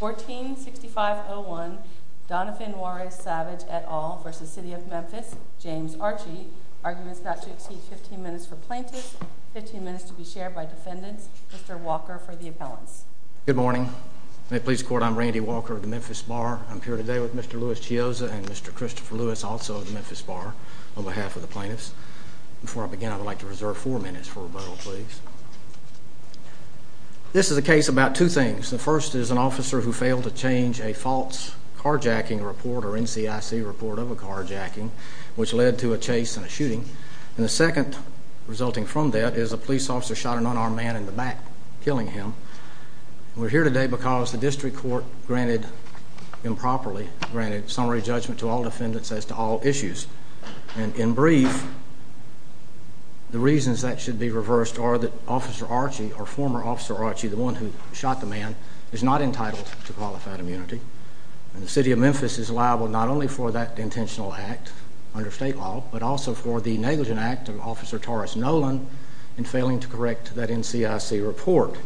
146501 Donovan Juarez Savage et al. v. City of Memphis James Archie Arguments not to exceed 15 minutes for plaintiffs, 15 minutes to be shared by defendants. Mr. Walker for the appellants. Good morning. May it please the court, I'm Randy Walker of the Memphis Bar. I'm here today with Mr. Louis Chiozza and Mr. Christopher Lewis also of the Memphis Bar on behalf of the plaintiffs. Before I begin I would like to reserve 4 minutes for rebuttal please. This is a case about two things. The first is an officer who failed to change a false carjacking report or NCIC report of a carjacking which led to a chase and a shooting. And the second resulting from that is a police officer shot an unarmed man in the back, killing him. We're here today because the district court granted improperly, granted summary judgment to all defendants as to all issues. And in brief, the reasons that should be reversed are that Officer Archie or former Officer Archie, the one who shot the man, is not entitled to qualified immunity. And the City of Memphis is liable not only for that intentional act under state law but also for the negligent act of Officer Torres Nolan in failing to correct that NCIC report.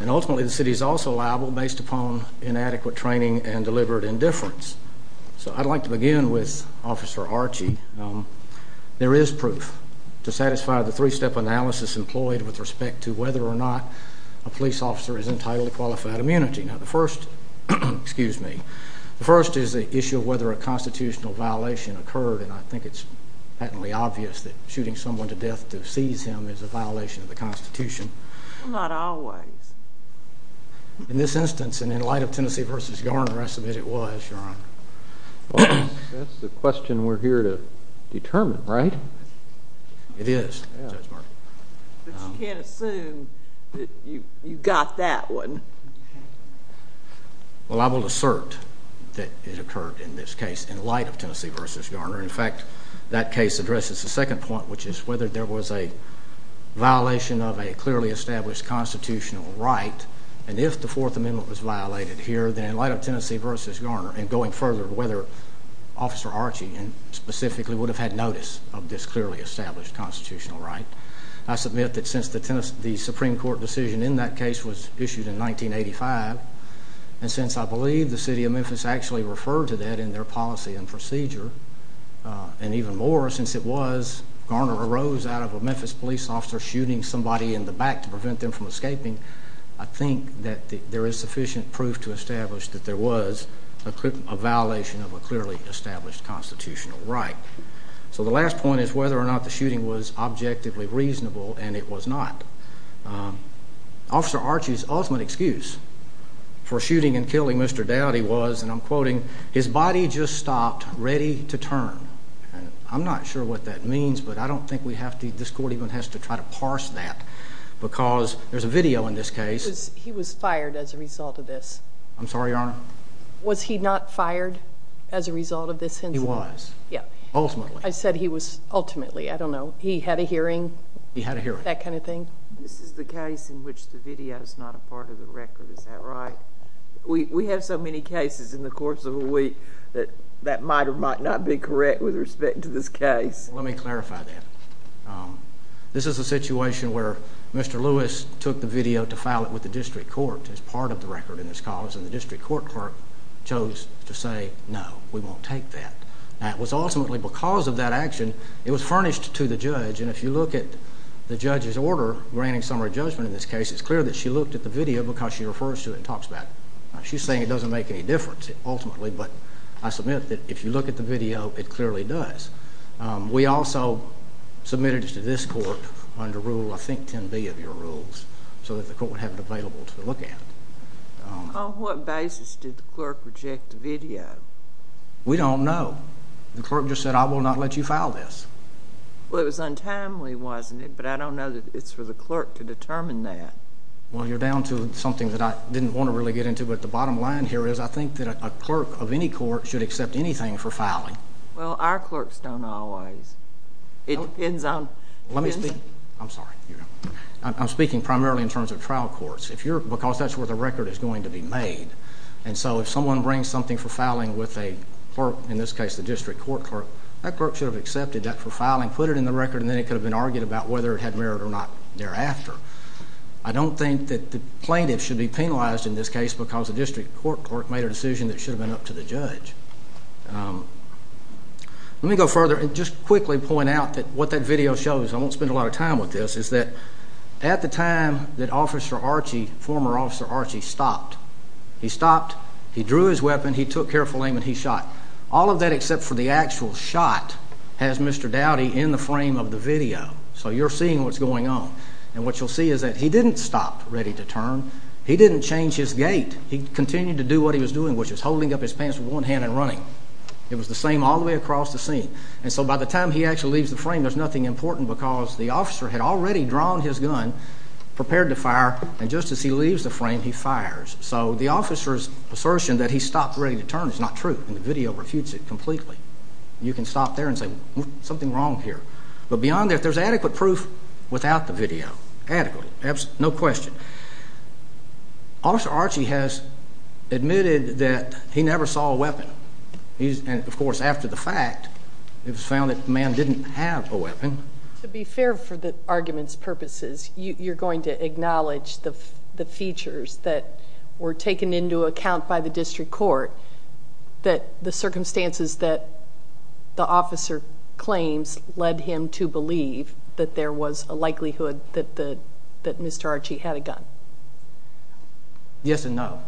And ultimately the city is also liable based upon inadequate training and deliberate indifference. So I'd like to begin with Officer Archie. There is proof to satisfy the three-step analysis employed with respect to whether or not a police officer is entitled to qualified immunity. Now the first, excuse me, the first is the issue of whether a constitutional violation occurred and I think it's patently obvious that shooting someone to death to seize him is a violation of the Constitution. Not always. In this instance and in light of Tennessee v. Garner, I submit it was, Your Honor. That's the question we're here to determine, right? It is, Judge Martin. But you can't assume that you got that one. Well, I will assert that it occurred in this case in light of Tennessee v. Garner. In fact, that case addresses the second point, which is whether there was a violation of a clearly established constitutional right. And if the Fourth Amendment was violated here, then in light of Tennessee v. Garner and going further, whether Officer Archie specifically would have had notice of this clearly established constitutional right. I submit that since the Supreme Court decision in that case was issued in 1985, and since I believe the City of Memphis actually referred to that in their policy and procedure, and even more since it was Garner arose out of a Memphis police officer shooting somebody in the back to prevent them from escaping, I think that there is sufficient proof to establish that there was a violation of a clearly established constitutional right. So the last point is whether or not the shooting was objectively reasonable, and it was not. Officer Archie's ultimate excuse for shooting and killing Mr. Dowdy was, and I'm quoting, his body just stopped ready to turn. I'm not sure what that means, but I don't think this court even has to try to parse that, because there's a video in this case. He was fired as a result of this. I'm sorry, Your Honor? Was he not fired as a result of this incident? He was, ultimately. I said he was ultimately. I don't know. He had a hearing? He had a hearing. That kind of thing? This is the case in which the video is not a part of the record. Is that right? We have so many cases in the course of a week that might or might not be correct with respect to this case. Let me clarify that. This is a situation where Mr. Lewis took the video to file it with the district court as part of the record in this cause, and the district court clerk chose to say, no, we won't take that. Now, it was ultimately because of that action, it was furnished to the judge, and if you look at the judge's order granting summary judgment in this case, it's clear that she looked at the video because she refers to it and talks about it. She's saying it doesn't make any difference ultimately, but I submit that if you look at the video, it clearly does. We also submitted it to this court under Rule, I think, 10B of your rules, so that the court would have it available to look at. On what basis did the clerk reject the video? We don't know. The clerk just said, I will not let you file this. Well, it was untimely, wasn't it? But I don't know that it's for the clerk to determine that. Well, you're down to something that I didn't want to really get into, but the bottom line here is I think that a clerk of any court should accept anything for filing. Well, our clerks don't always. It depends on... Let me speak. I'm sorry. I'm speaking primarily in terms of trial courts. Because that's where the record is going to be made. And so if someone brings something for filing with a clerk, in this case the district court clerk, that clerk should have accepted that for filing, put it in the record, and then it could have been argued about whether it had merit or not thereafter. I don't think that the plaintiff should be penalized in this case because the district court clerk made a decision that should have been up to the judge. Let me go further and just quickly point out that what that video shows, I won't spend a lot of time with this, is that at the time that Officer Archie, former Officer Archie, stopped, he stopped, he drew his weapon, he took careful aim, and he shot. All of that except for the actual shot has Mr. Dowdy in the frame of the video. So you're seeing what's going on. And what you'll see is that he didn't stop ready to turn. He didn't change his gait. He continued to do what he was doing, which was holding up his pants with one hand and running. It was the same all the way across the scene. And so by the time he actually leaves the frame, there's nothing important because the officer had already drawn his gun, prepared to fire, and just as he leaves the frame, he fires. So the officer's assertion that he stopped ready to turn is not true, and the video refutes it completely. You can stop there and say, something's wrong here. But beyond that, there's adequate proof without the video, adequate, no question. Officer Archie has admitted that he never saw a weapon. And, of course, after the fact, it was found that the man didn't have a weapon. To be fair for the argument's purposes, you're going to acknowledge the features that were taken into account by the district court that the circumstances that the officer claims led him to believe that there was a likelihood that Mr. Archie had a gun. Yes and no.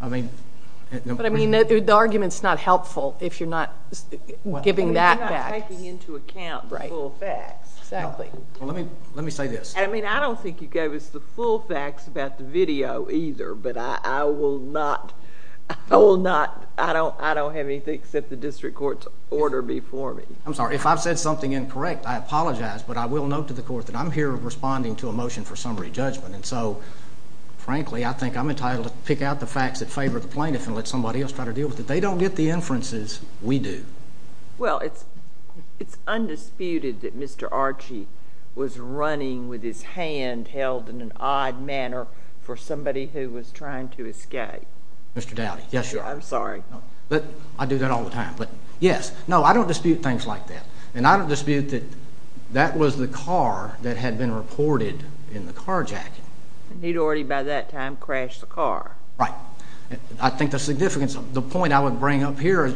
But, I mean, the argument's not helpful if you're not giving that fact. Well, you're not taking into account the full facts. Exactly. Well, let me say this. I mean, I don't think you gave us the full facts about the video either, but I don't have anything except the district court's order before me. I'm sorry. If I've said something incorrect, I apologize, but I will note to the court that I'm here responding to a motion for summary judgment. And so, frankly, I think I'm entitled to pick out the facts that favor the plaintiff and let somebody else try to deal with it. They don't get the inferences. We do. Well, it's undisputed that Mr. Archie was running with his hand held in an odd manner for somebody who was trying to escape. Mr. Dowdy, yes, Your Honor. I'm sorry. I do that all the time. But, yes, no, I don't dispute things like that. And I don't dispute that that was the car that had been reported in the carjacking. And he'd already by that time crashed the car. Right. I think the significance of the point I would bring up here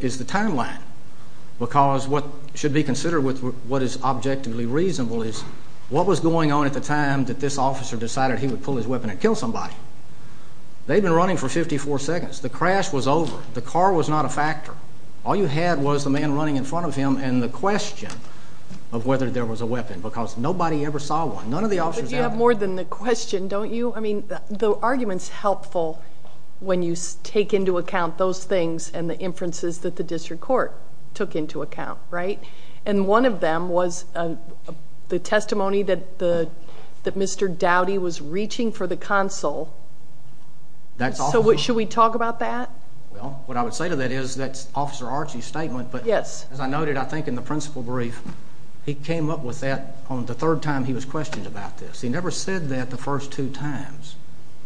is the timeline because what should be considered with what is objectively reasonable is what was going on at the time that this officer decided he would pull his weapon and kill somebody. They'd been running for 54 seconds. The crash was over. The car was not a factor. All you had was the man running in front of him and the question of whether there was a weapon because nobody ever saw one. None of the officers had one. But you have more than the question, don't you? I mean, the argument's helpful when you take into account those things and the inferences that the district court took into account, right? And one of them was the testimony that Mr. Dowdy was reaching for the consul. So should we talk about that? Well, what I would say to that is that's Officer Archie's statement, but as I noted, I think in the principal brief, he came up with that on the third time he was questioned about this. He never said that the first two times.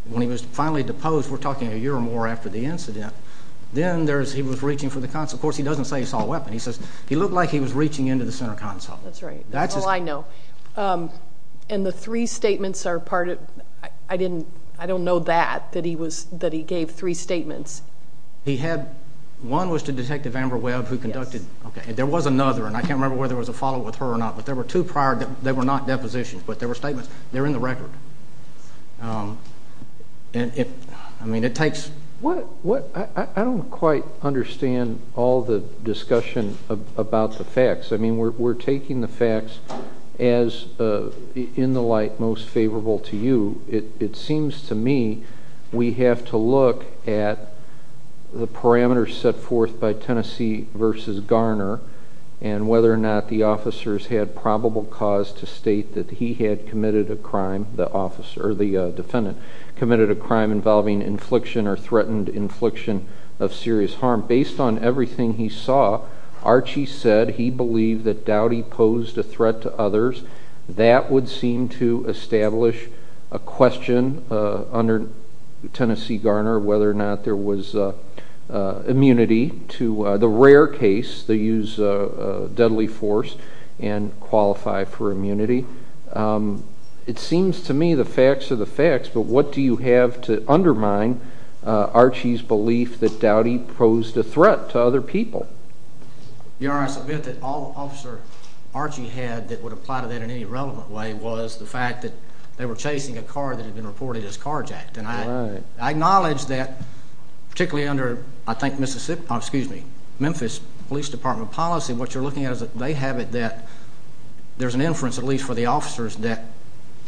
When he was finally deposed, we're talking a year or more after the incident, then he was reaching for the consul. Of course, he doesn't say he saw a weapon. He says he looked like he was reaching into the center consul. That's right. That's all I know. And the three statements are part of it. I don't know that, that he gave three statements. One was to Detective Amber Webb who conducted. There was another, and I can't remember whether there was a follow-up with her or not, but there were two prior. They were not depositions, but there were statements. They're in the record. I mean, it takes. I don't quite understand all the discussion about the facts. I mean, we're taking the facts as in the light most favorable to you. It seems to me we have to look at the parameters set forth by Tennessee versus Garner and whether or not the officers had probable cause to state that he had committed a crime, the officer or the defendant committed a crime involving infliction or threatened infliction of serious harm. Based on everything he saw, Archie said he believed that Doughty posed a threat to others. That would seem to establish a question under Tennessee Garner whether or not there was immunity to the rare case they use deadly force and qualify for immunity. It seems to me the facts are the facts, but what do you have to undermine Archie's belief that Doughty posed a threat to other people? Your Honor, I submit that all Officer Archie had that would apply to that in any relevant way was the fact that they were chasing a car that had been reported as carjacked. I acknowledge that particularly under, I think, Memphis Police Department policy, what you're looking at is that they have it that there's an inference, at least for the officers, that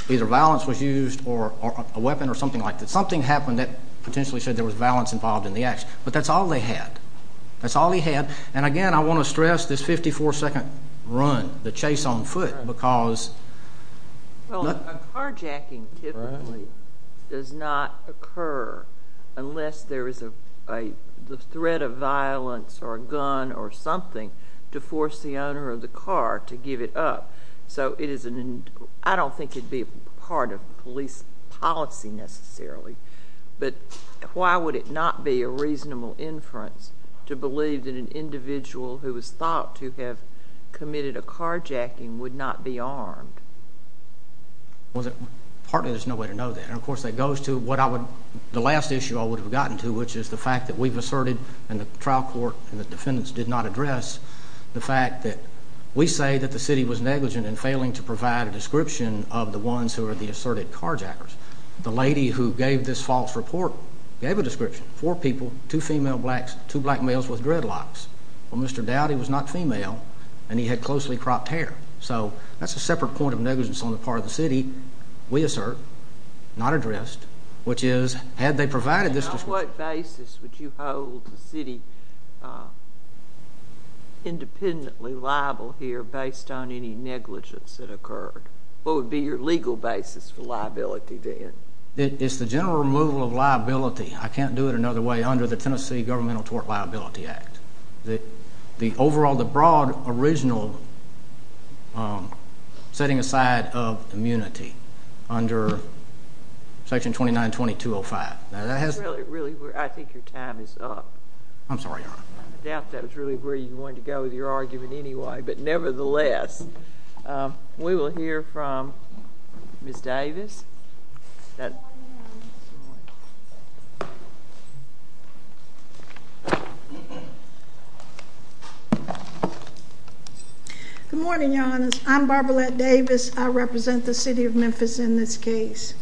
either violence was used or a weapon or something like that. Something happened that potentially said there was violence involved in the action. But that's all they had. That's all he had. And, again, I want to stress this 54-second run, the chase on foot, because— Well, a carjacking typically does not occur unless there is a threat of violence or a gun or something to force the owner of the car to give it up. So I don't think it would be part of police policy necessarily. But why would it not be a reasonable inference to believe that an individual who was thought to have committed a carjacking would not be armed? Well, partly there's no way to know that. And, of course, that goes to the last issue I would have gotten to, which is the fact that we've asserted, and the trial court and the defendants did not address, the fact that we say that the city was negligent in failing to provide a description of the ones who are the asserted carjackers. The lady who gave this false report gave a description. Four people, two female blacks, two black males with dreadlocks. Well, Mr. Dowdy was not female, and he had closely cropped hair. So that's a separate point of negligence on the part of the city we assert, not addressed, which is, had they provided this description— —independently liable here based on any negligence that occurred? What would be your legal basis for liability then? It's the general removal of liability. I can't do it another way under the Tennessee Governmental Tort Liability Act. The overall, the broad, original setting aside of immunity under Section 2920-205. That's really where I think your time is up. I'm sorry, Your Honor. I doubt that was really where you wanted to go with your argument anyway, but nevertheless, we will hear from Ms. Davis. Good morning, Your Honor. I'm Barbaralette Davis. I represent the city of Memphis in this case.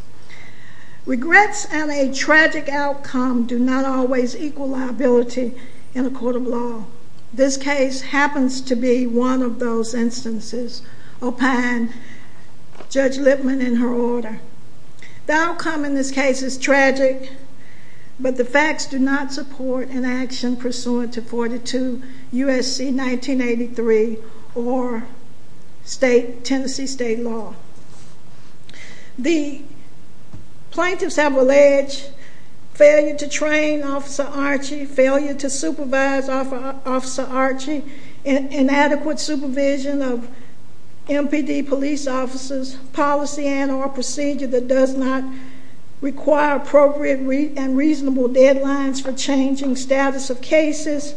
Regrets and a tragic outcome do not always equal liability in a court of law. This case happens to be one of those instances, opine Judge Lipman in her order. The outcome in this case is tragic, but the facts do not support an action pursuant to 42 U.S.C. 1983 or Tennessee state law. The plaintiffs have alleged failure to train Officer Archie, failure to supervise Officer Archie, inadequate supervision of MPD police officers, policy and or procedure that does not require appropriate and reasonable deadlines for changing status of cases,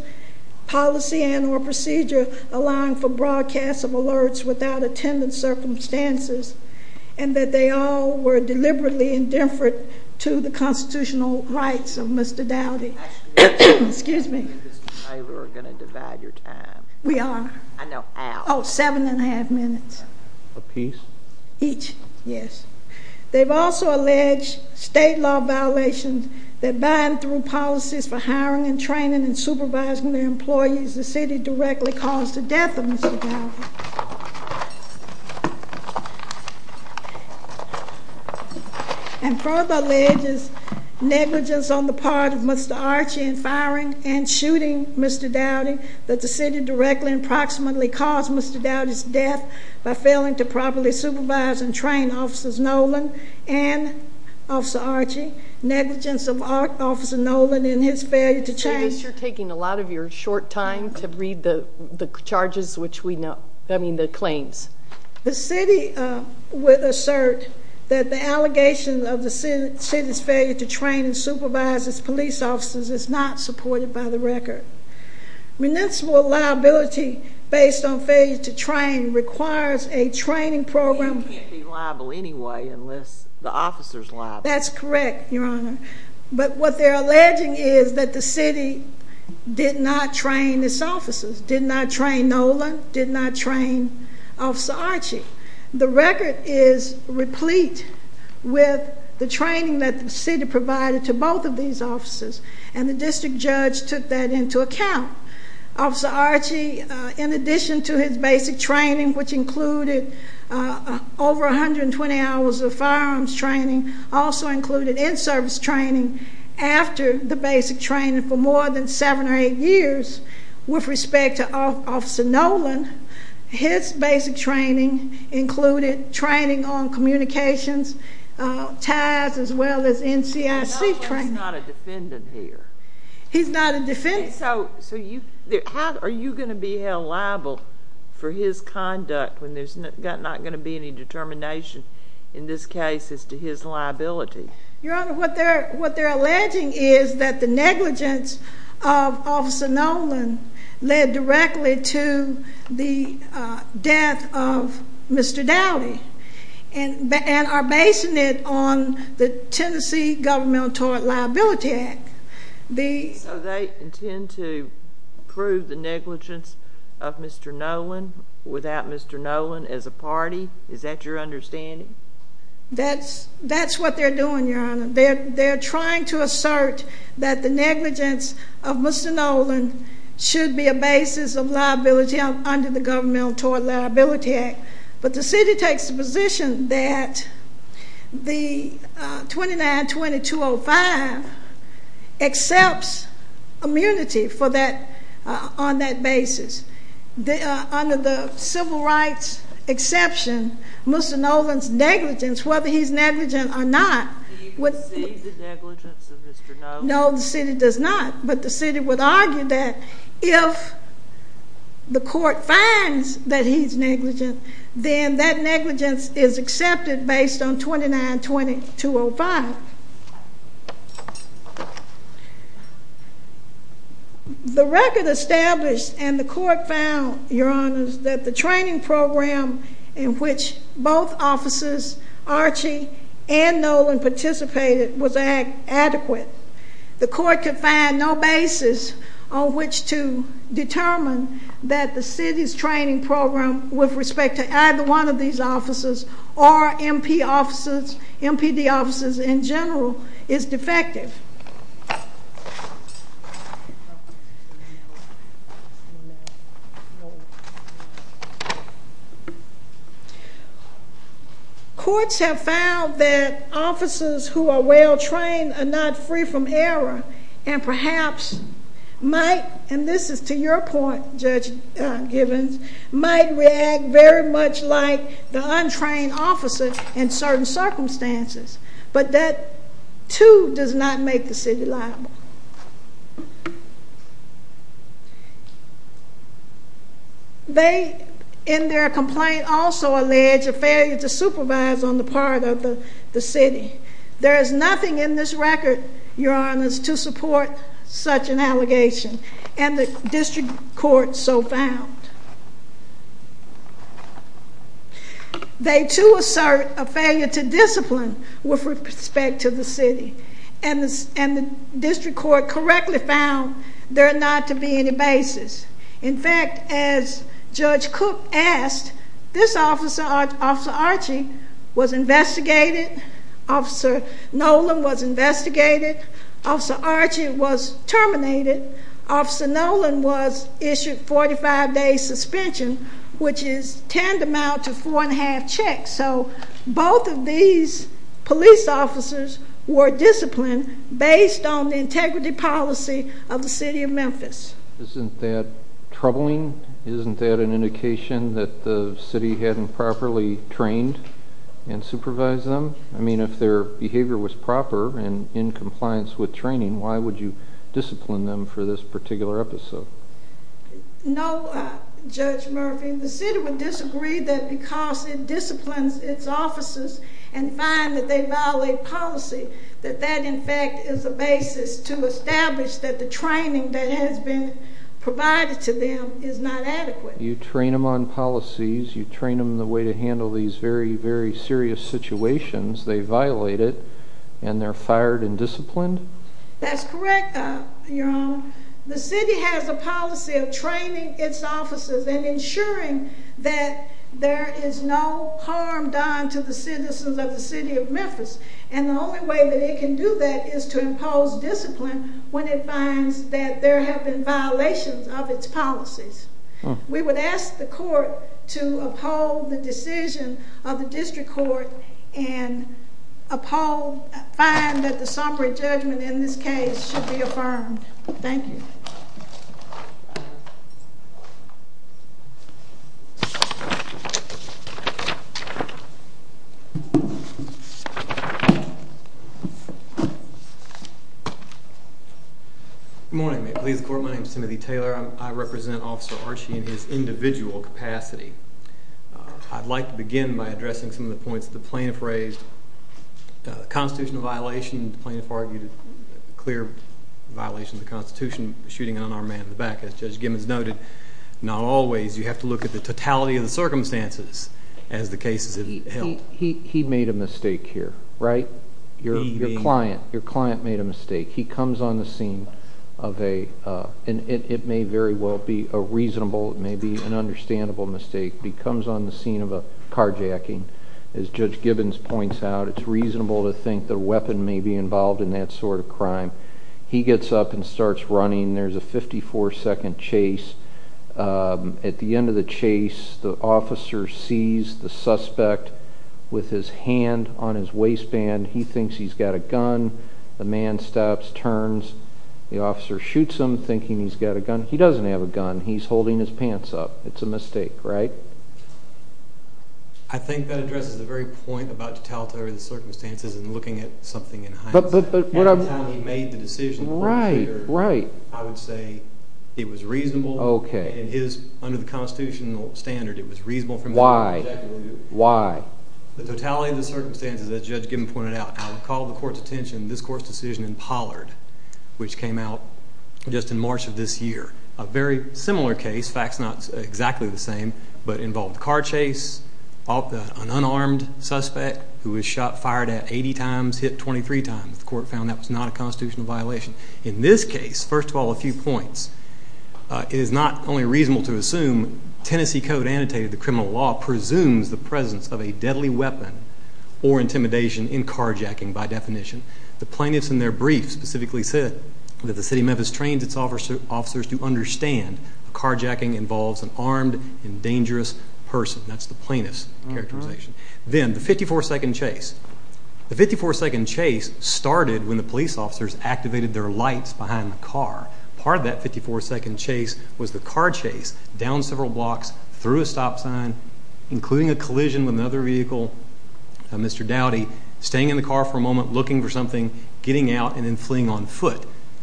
policy and or procedure allowing for broadcasts of alerts without attendant circumstances, and that they all were deliberately indifferent to the constitutional rights of Mr. Dowdy. Excuse me. You and Mr. Taylor are going to divide your time. We are? I know how. Oh, seven and a half minutes. A piece? Each, yes. They've also alleged state law violations that bind through policies for hiring and training and supervising their employees. The city directly caused the death of Mr. Dowdy. And further alleges negligence on the part of Mr. Archie in firing and shooting Mr. Dowdy approximately caused Mr. Dowdy's death by failing to properly supervise and train Officers Nolan and Officer Archie, negligence of Officer Nolan in his failure to change. So at least you're taking a lot of your short time to read the charges, which we know, I mean the claims. The city would assert that the allegations of the city's failure to train and supervise its police officers is not supported by the record. Municipal liability based on failure to train requires a training program. You can't be liable anyway unless the officer's liable. That's correct, Your Honor. But what they're alleging is that the city did not train its officers, did not train Nolan, did not train Officer Archie. The record is replete with the training that the city provided to both of these officers. And the district judge took that into account. Officer Archie, in addition to his basic training, which included over 120 hours of firearms training, also included in-service training after the basic training for more than seven or eight years. With respect to Officer Nolan, his basic training included training on communications, TAS, as well as NCIC training. He's not a defendant here. He's not a defendant. So are you going to be held liable for his conduct when there's not going to be any determination in this case as to his liability? Your Honor, what they're alleging is that the negligence of Officer Nolan led directly to the death of Mr. Dowdy and are basing it on the Tennessee Governmental Tort Liability Act. So they intend to prove the negligence of Mr. Nolan without Mr. Nolan as a party? Is that your understanding? That's what they're doing, Your Honor. They're trying to assert that the negligence of Mr. Nolan should be a basis of liability under the Governmental Tort Liability Act. But the city takes the position that the 29-2205 accepts immunity on that basis. Under the civil rights exception, Mr. Nolan's negligence, whether he's negligent or not. Do you perceive the negligence of Mr. Nolan? No, the city does not. But the city would argue that if the court finds that he's negligent, then that negligence is accepted based on 29-2205. The record established and the court found, Your Honor, that the training program in which both officers, Archie and Nolan, participated was adequate. The court could find no basis on which to determine that the city's training program with respect to either one of these officers or MPD officers in general is defective. Courts have found that officers who are well-trained are not free from error and perhaps might, and this is to your point, Judge Givens, might react very much like the untrained officer in certain circumstances. But that, too, does not make the city liable. They, in their complaint, also allege a failure to supervise on the part of the city. There is nothing in this record, Your Honors, to support such an allegation. And the district court so found. They, too, assert a failure to discipline with respect to the city. And the district court correctly found there not to be any basis. In fact, as Judge Cook asked, this officer, Officer Archie, was investigated. Officer Nolan was investigated. Officer Archie was terminated. Officer Nolan was issued a 45-day suspension, which is tantamount to four and a half checks. So both of these police officers were disciplined based on the integrity policy of the city of Memphis. Isn't that troubling? Isn't that an indication that the city hadn't properly trained and supervised them? I mean, if their behavior was proper and in compliance with training, why would you discipline them for this particular episode? No, Judge Murphy. The city would disagree that because it disciplines its officers and find that they violate policy, that that, in fact, is a basis to establish that the training that has been provided to them is not adequate. You train them on policies. You train them the way to handle these very, very serious situations. They violate it, and they're fired and disciplined? That's correct, Your Honor. The city has a policy of training its officers and ensuring that there is no harm done to the citizens of the city of Memphis. And the only way that it can do that is to impose discipline when it finds that there have been violations of its policies. We would ask the court to uphold the decision of the district court and uphold, find that the Sompere judgment in this case should be affirmed. Thank you. Good morning. May it please the court, my name is Timothy Taylor. I represent Officer Archie in his individual capacity. I'd like to begin by addressing some of the points that the plaintiff raised. The constitutional violation, the plaintiff argued a clear violation of the Constitution shooting an unarmed man in the back. As Judge Gimmons noted, not always. You have to look at the totality of the circumstances as the case is held. He made a mistake here, right? Your client made a mistake. He comes on the scene of a, and it may very well be a reasonable, it may be an understandable mistake. He comes on the scene of a carjacking. As Judge Gimmons points out, it's reasonable to think the weapon may be involved in that sort of crime. He gets up and starts running. There's a 54 second chase. At the end of the chase, the officer sees the suspect with his hand on his waistband. He thinks he's got a gun. The man stops, turns. The officer shoots him, thinking he's got a gun. He doesn't have a gun. He's holding his pants up. It's a mistake, right? I think that addresses the very point about the totality of the circumstances and looking at something in hindsight. At the time he made the decision, I would say it was reasonable. Under the constitutional standard, it was reasonable for him to do that. Why? The totality of the circumstances, as Judge Gimmons pointed out, I would call the court's attention to this court's decision in Pollard, which came out just in March of this year. A very similar case, facts not exactly the same, but involved a car chase, an unarmed suspect who was shot, fired at 80 times, hit 23 times. The court found that was not a constitutional violation. In this case, first of all, a few points. It is not only reasonable to assume Tennessee Code annotated the criminal law presumes the presence of a deadly weapon or intimidation in carjacking by definition. The plaintiffs in their brief specifically said that the City of Memphis trains its officers to understand that carjacking involves an armed and dangerous person. That's the plaintiff's characterization. Then, the 54-second chase. The 54-second chase started when the police officers activated their lights behind the car. Part of that 54-second chase was the car chase down several blocks, through a stop sign, including a collision with another vehicle, Mr. Dowdy, staying in the car for a moment, looking for something, getting out, and then fleeing on foot.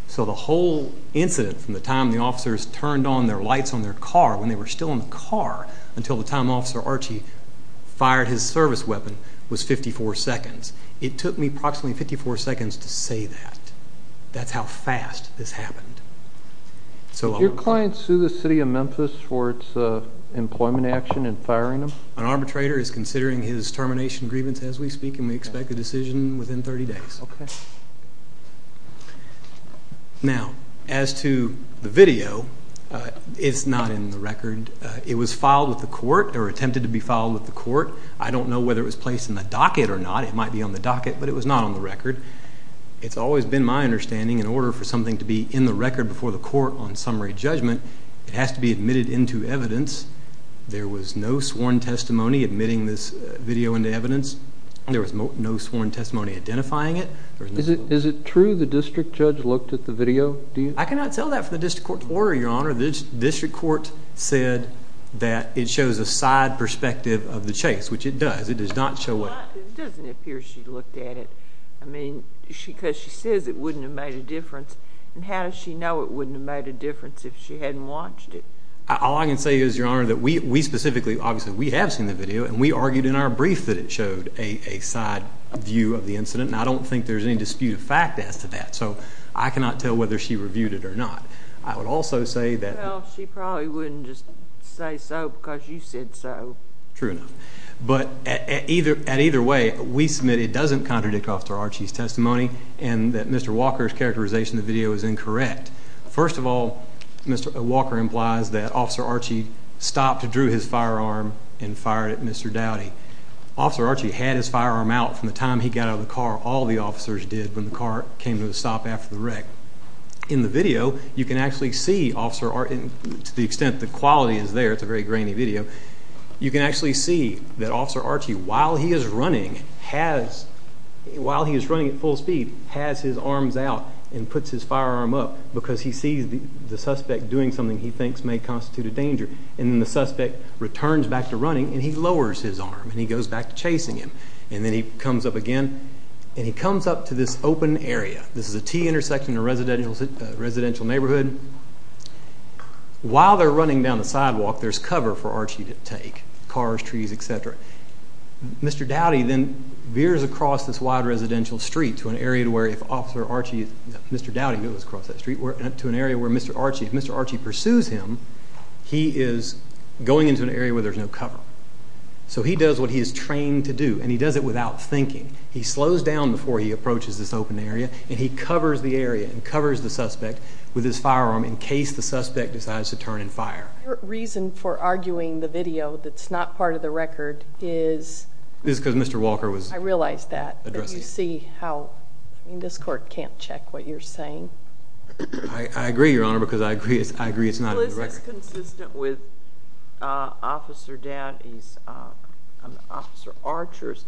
So the whole incident from the time the officers turned on their lights on their car, when they were still in the car until the time Officer Archie fired his service weapon, was 54 seconds. It took me approximately 54 seconds to say that. That's how fast this happened. Did your client sue the City of Memphis for its employment action in firing him? An arbitrator is considering his termination grievance as we speak, and we expect a decision within 30 days. Okay. Now, as to the video, it's not in the record. It was filed with the court, or attempted to be filed with the court. I don't know whether it was placed in the docket or not. It's always been my understanding, in order for something to be in the record before the court on summary judgment, it has to be admitted into evidence. There was no sworn testimony admitting this video into evidence. There was no sworn testimony identifying it. Is it true the district judge looked at the video? I cannot tell that for the district court to order, Your Honor. The district court said that it shows a side perspective of the chase, which it does. It doesn't appear she looked at it. I mean, because she says it wouldn't have made a difference, and how does she know it wouldn't have made a difference if she hadn't watched it? All I can say is, Your Honor, that we specifically, obviously we have seen the video, and we argued in our brief that it showed a side view of the incident, and I don't think there's any dispute of fact as to that, so I cannot tell whether she reviewed it or not. I would also say that— Well, she probably wouldn't just say so because you said so. True enough. But either way, we submit it doesn't contradict Officer Archie's testimony and that Mr. Walker's characterization of the video is incorrect. First of all, Mr. Walker implies that Officer Archie stopped and drew his firearm and fired at Mr. Doughty. Officer Archie had his firearm out from the time he got out of the car. All the officers did when the car came to a stop after the wreck. In the video, you can actually see Officer Archie. To the extent the quality is there, it's a very grainy video. You can actually see that Officer Archie, while he is running at full speed, has his arms out and puts his firearm up because he sees the suspect doing something he thinks may constitute a danger. And then the suspect returns back to running, and he lowers his arm, and he goes back to chasing him. And then he comes up again, and he comes up to this open area. This is a T intersection in a residential neighborhood. While they're running down the sidewalk, there's cover for Archie to take, cars, trees, etc. Mr. Doughty then veers across this wide residential street to an area where if Mr. Archie pursues him, he is going into an area where there's no cover. So he does what he is trained to do, and he does it without thinking. He slows down before he approaches this open area, and he covers the area and covers the suspect with his firearm in case the suspect decides to turn and fire. Your reason for arguing the video that's not part of the record is? It's because Mr. Walker was addressing it. I realize that, but you see how this court can't check what you're saying. I agree, Your Honor, because I agree it's not in the record. Well, is this consistent with Officer Archer's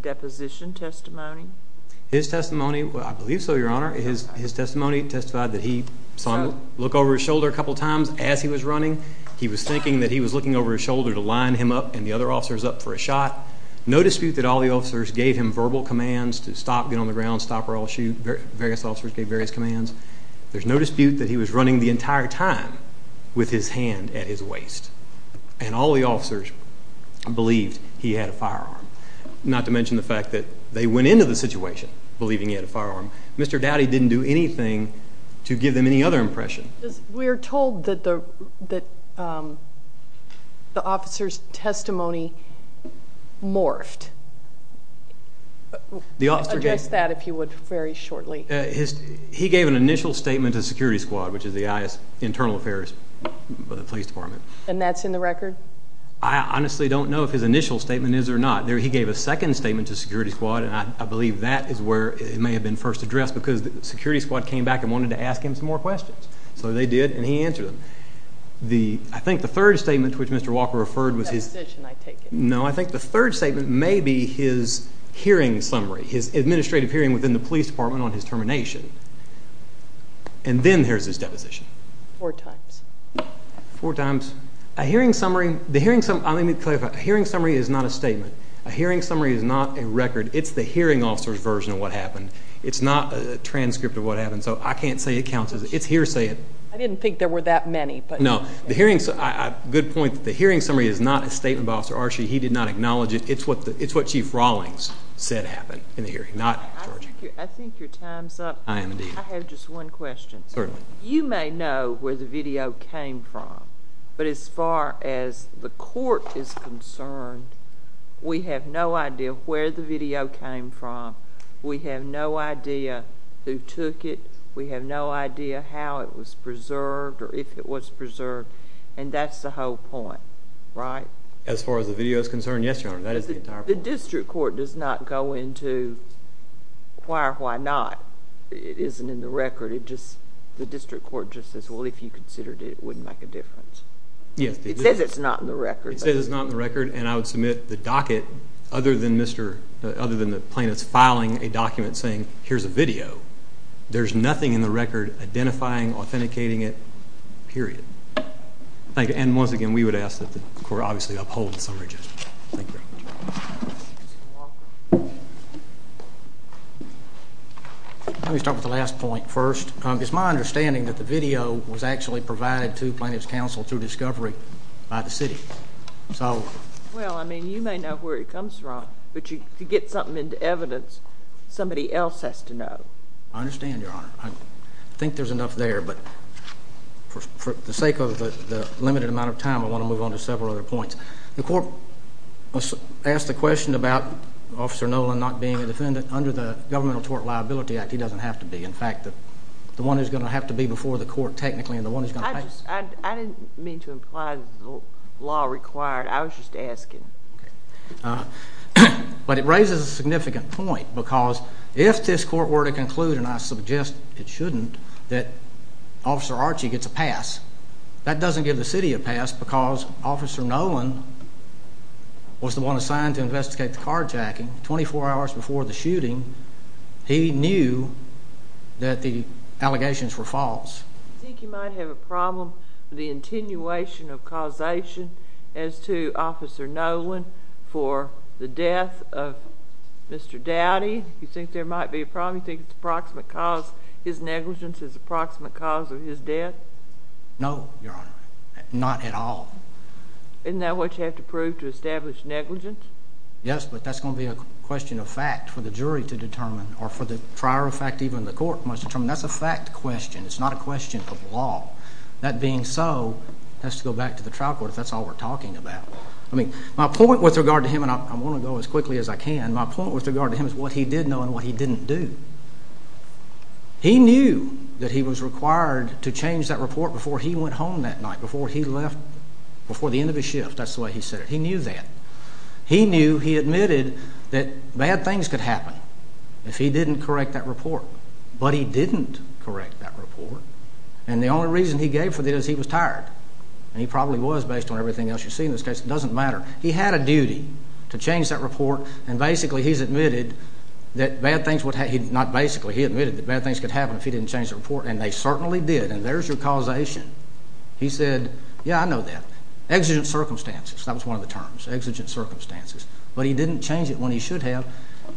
deposition testimony? His testimony, well, I believe so, Your Honor. His testimony testified that he saw him look over his shoulder a couple times as he was running. He was thinking that he was looking over his shoulder to line him up and the other officers up for a shot. No dispute that all the officers gave him verbal commands to stop, get on the ground, stop or I'll shoot. Various officers gave various commands. There's no dispute that he was running the entire time with his hand at his waist, and all the officers believed he had a firearm, not to mention the fact that they went into the situation believing he had a firearm. Mr. Dowdy didn't do anything to give them any other impression. We're told that the officer's testimony morphed. Address that, if you would, very shortly. He gave an initial statement to security squad, which is the Internal Affairs of the Police Department. And that's in the record? I honestly don't know if his initial statement is or not. He gave a second statement to security squad, and I believe that is where it may have been first addressed because the security squad came back and wanted to ask him some more questions. So they did, and he answered them. I think the third statement to which Mr. Walker referred was his… Deposition, I take it. No, I think the third statement may be his hearing summary, his administrative hearing within the police department on his termination. And then there's his deposition. Four times. Four times. A hearing summary. Let me clarify. A hearing summary is not a statement. A hearing summary is not a record. It's the hearing officer's version of what happened. It's not a transcript of what happened. So I can't say it counts. It's hearsay. I didn't think there were that many. No. Good point. The hearing summary is not a statement by Officer Archie. He did not acknowledge it. It's what Chief Rawlings said happened in the hearing, not Georgia. I think your time's up. I am indeed. I have just one question. Certainly. You may know where the video came from, but as far as the court is concerned, we have no idea where the video came from. We have no idea who took it. We have no idea how it was preserved or if it was preserved. And that's the whole point, right? As far as the video is concerned, yes, Your Honor. That is the entire point. The district court does not go into why or why not. It isn't in the record. The district court just says, well, if you considered it, it wouldn't make a difference. It says it's not in the record. It says it's not in the record, and I would submit the docket, other than the plaintiff's filing a document saying, here's a video. There's nothing in the record identifying, authenticating it, period. And once again, we would ask that the court obviously uphold the summary judgment. Thank you. Mr. Walker. Let me start with the last point first. It's my understanding that the video was actually provided to Plaintiff's Counsel through discovery by the city. Well, I mean, you may know where it comes from, but to get something into evidence, somebody else has to know. I understand, Your Honor. I think there's enough there, but for the sake of the limited amount of time, I want to move on to several other points. The court asked the question about Officer Nolan not being a defendant under the Governmental Tort Liability Act. He doesn't have to be. In fact, the one who's going to have to be before the court technically and the one who's going to pay. I didn't mean to imply the law required. I was just asking. But it raises a significant point because if this court were to conclude, and I suggest it shouldn't, that Officer Archie gets a pass, that doesn't give the city a pass because Officer Nolan was the one assigned to investigate the carjacking. Twenty-four hours before the shooting, he knew that the allegations were false. Do you think you might have a problem with the attenuation of causation as to Officer Nolan for the death of Mr. Dowdy? Do you think there might be a problem? Do you think his negligence is the proximate cause of his death? No, Your Honor, not at all. Isn't that what you have to prove to establish negligence? Yes, but that's going to be a question of fact for the jury to determine or for the trier of fact even the court must determine. That's a fact question. It's not a question of law. That being so, it has to go back to the trial court if that's all we're talking about. My point with regard to him, and I want to go as quickly as I can, my point with regard to him is what he did know and what he didn't do. He knew that he was required to change that report before he went home that night, before he left, before the end of his shift. That's the way he said it. He knew that. He knew, he admitted that bad things could happen if he didn't correct that report, but he didn't correct that report, and the only reason he gave for that is he was tired, and he probably was based on everything else you see in this case. It doesn't matter. He had a duty to change that report, and basically he's admitted that bad things would happen. Not basically. He admitted that bad things could happen if he didn't change the report, and they certainly did, and there's your causation. He said, yeah, I know that. Exigent circumstances. That was one of the terms, exigent circumstances, but he didn't change it when he should have.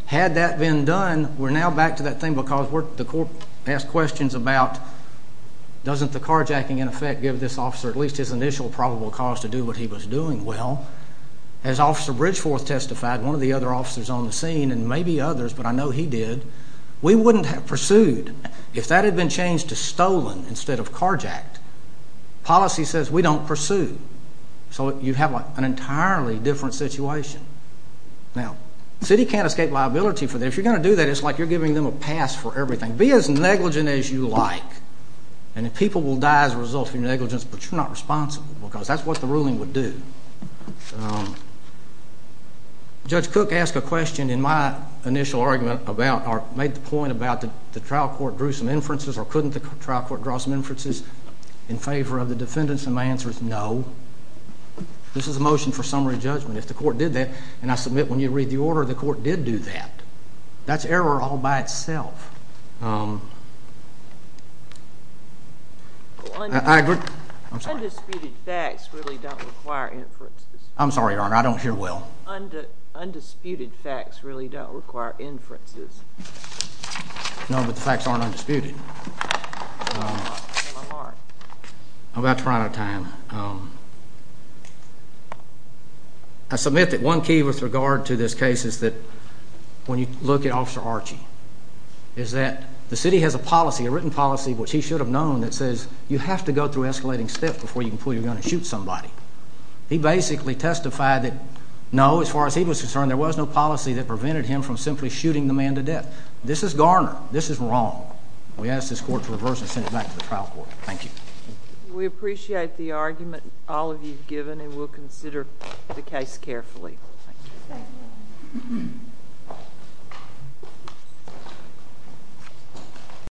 Had that been done, we're now back to that thing because the court asked questions about doesn't the carjacking, in effect, give this officer at least his initial probable cause to do what he was doing well? As Officer Bridgeforth testified, one of the other officers on the scene, and maybe others, but I know he did, we wouldn't have pursued. If that had been changed to stolen instead of carjacked, policy says we don't pursue. So you have an entirely different situation. Now, the city can't escape liability for that. If you're going to do that, it's like you're giving them a pass for everything. Be as negligent as you like, and the people will die as a result of your negligence, but you're not responsible because that's what the ruling would do. Judge Cook asked a question in my initial argument about or made the point about the trial court drew some inferences or couldn't the trial court draw some inferences in favor of the defendants, and my answer is no. This is a motion for summary judgment. If the court did that, and I submit when you read the order, the court did do that. That's error all by itself. Undisputed facts really don't require inferences. I'm sorry, Your Honor, I don't hear well. Undisputed facts really don't require inferences. No, but the facts aren't undisputed. I'm about to run out of time. I submit that one key with regard to this case is that when you look at Officer Archie is that the city has a policy, a written policy which he should have known that says you have to go through escalating steps before you can pull your gun and shoot somebody. He basically testified that no, as far as he was concerned, there was no policy that prevented him from simply shooting the man to death. This is Garner. This is wrong. We ask this court to reverse this and send it back to the trial court. Thank you. We appreciate the argument all of you have given, and we'll consider the case carefully. Thank you.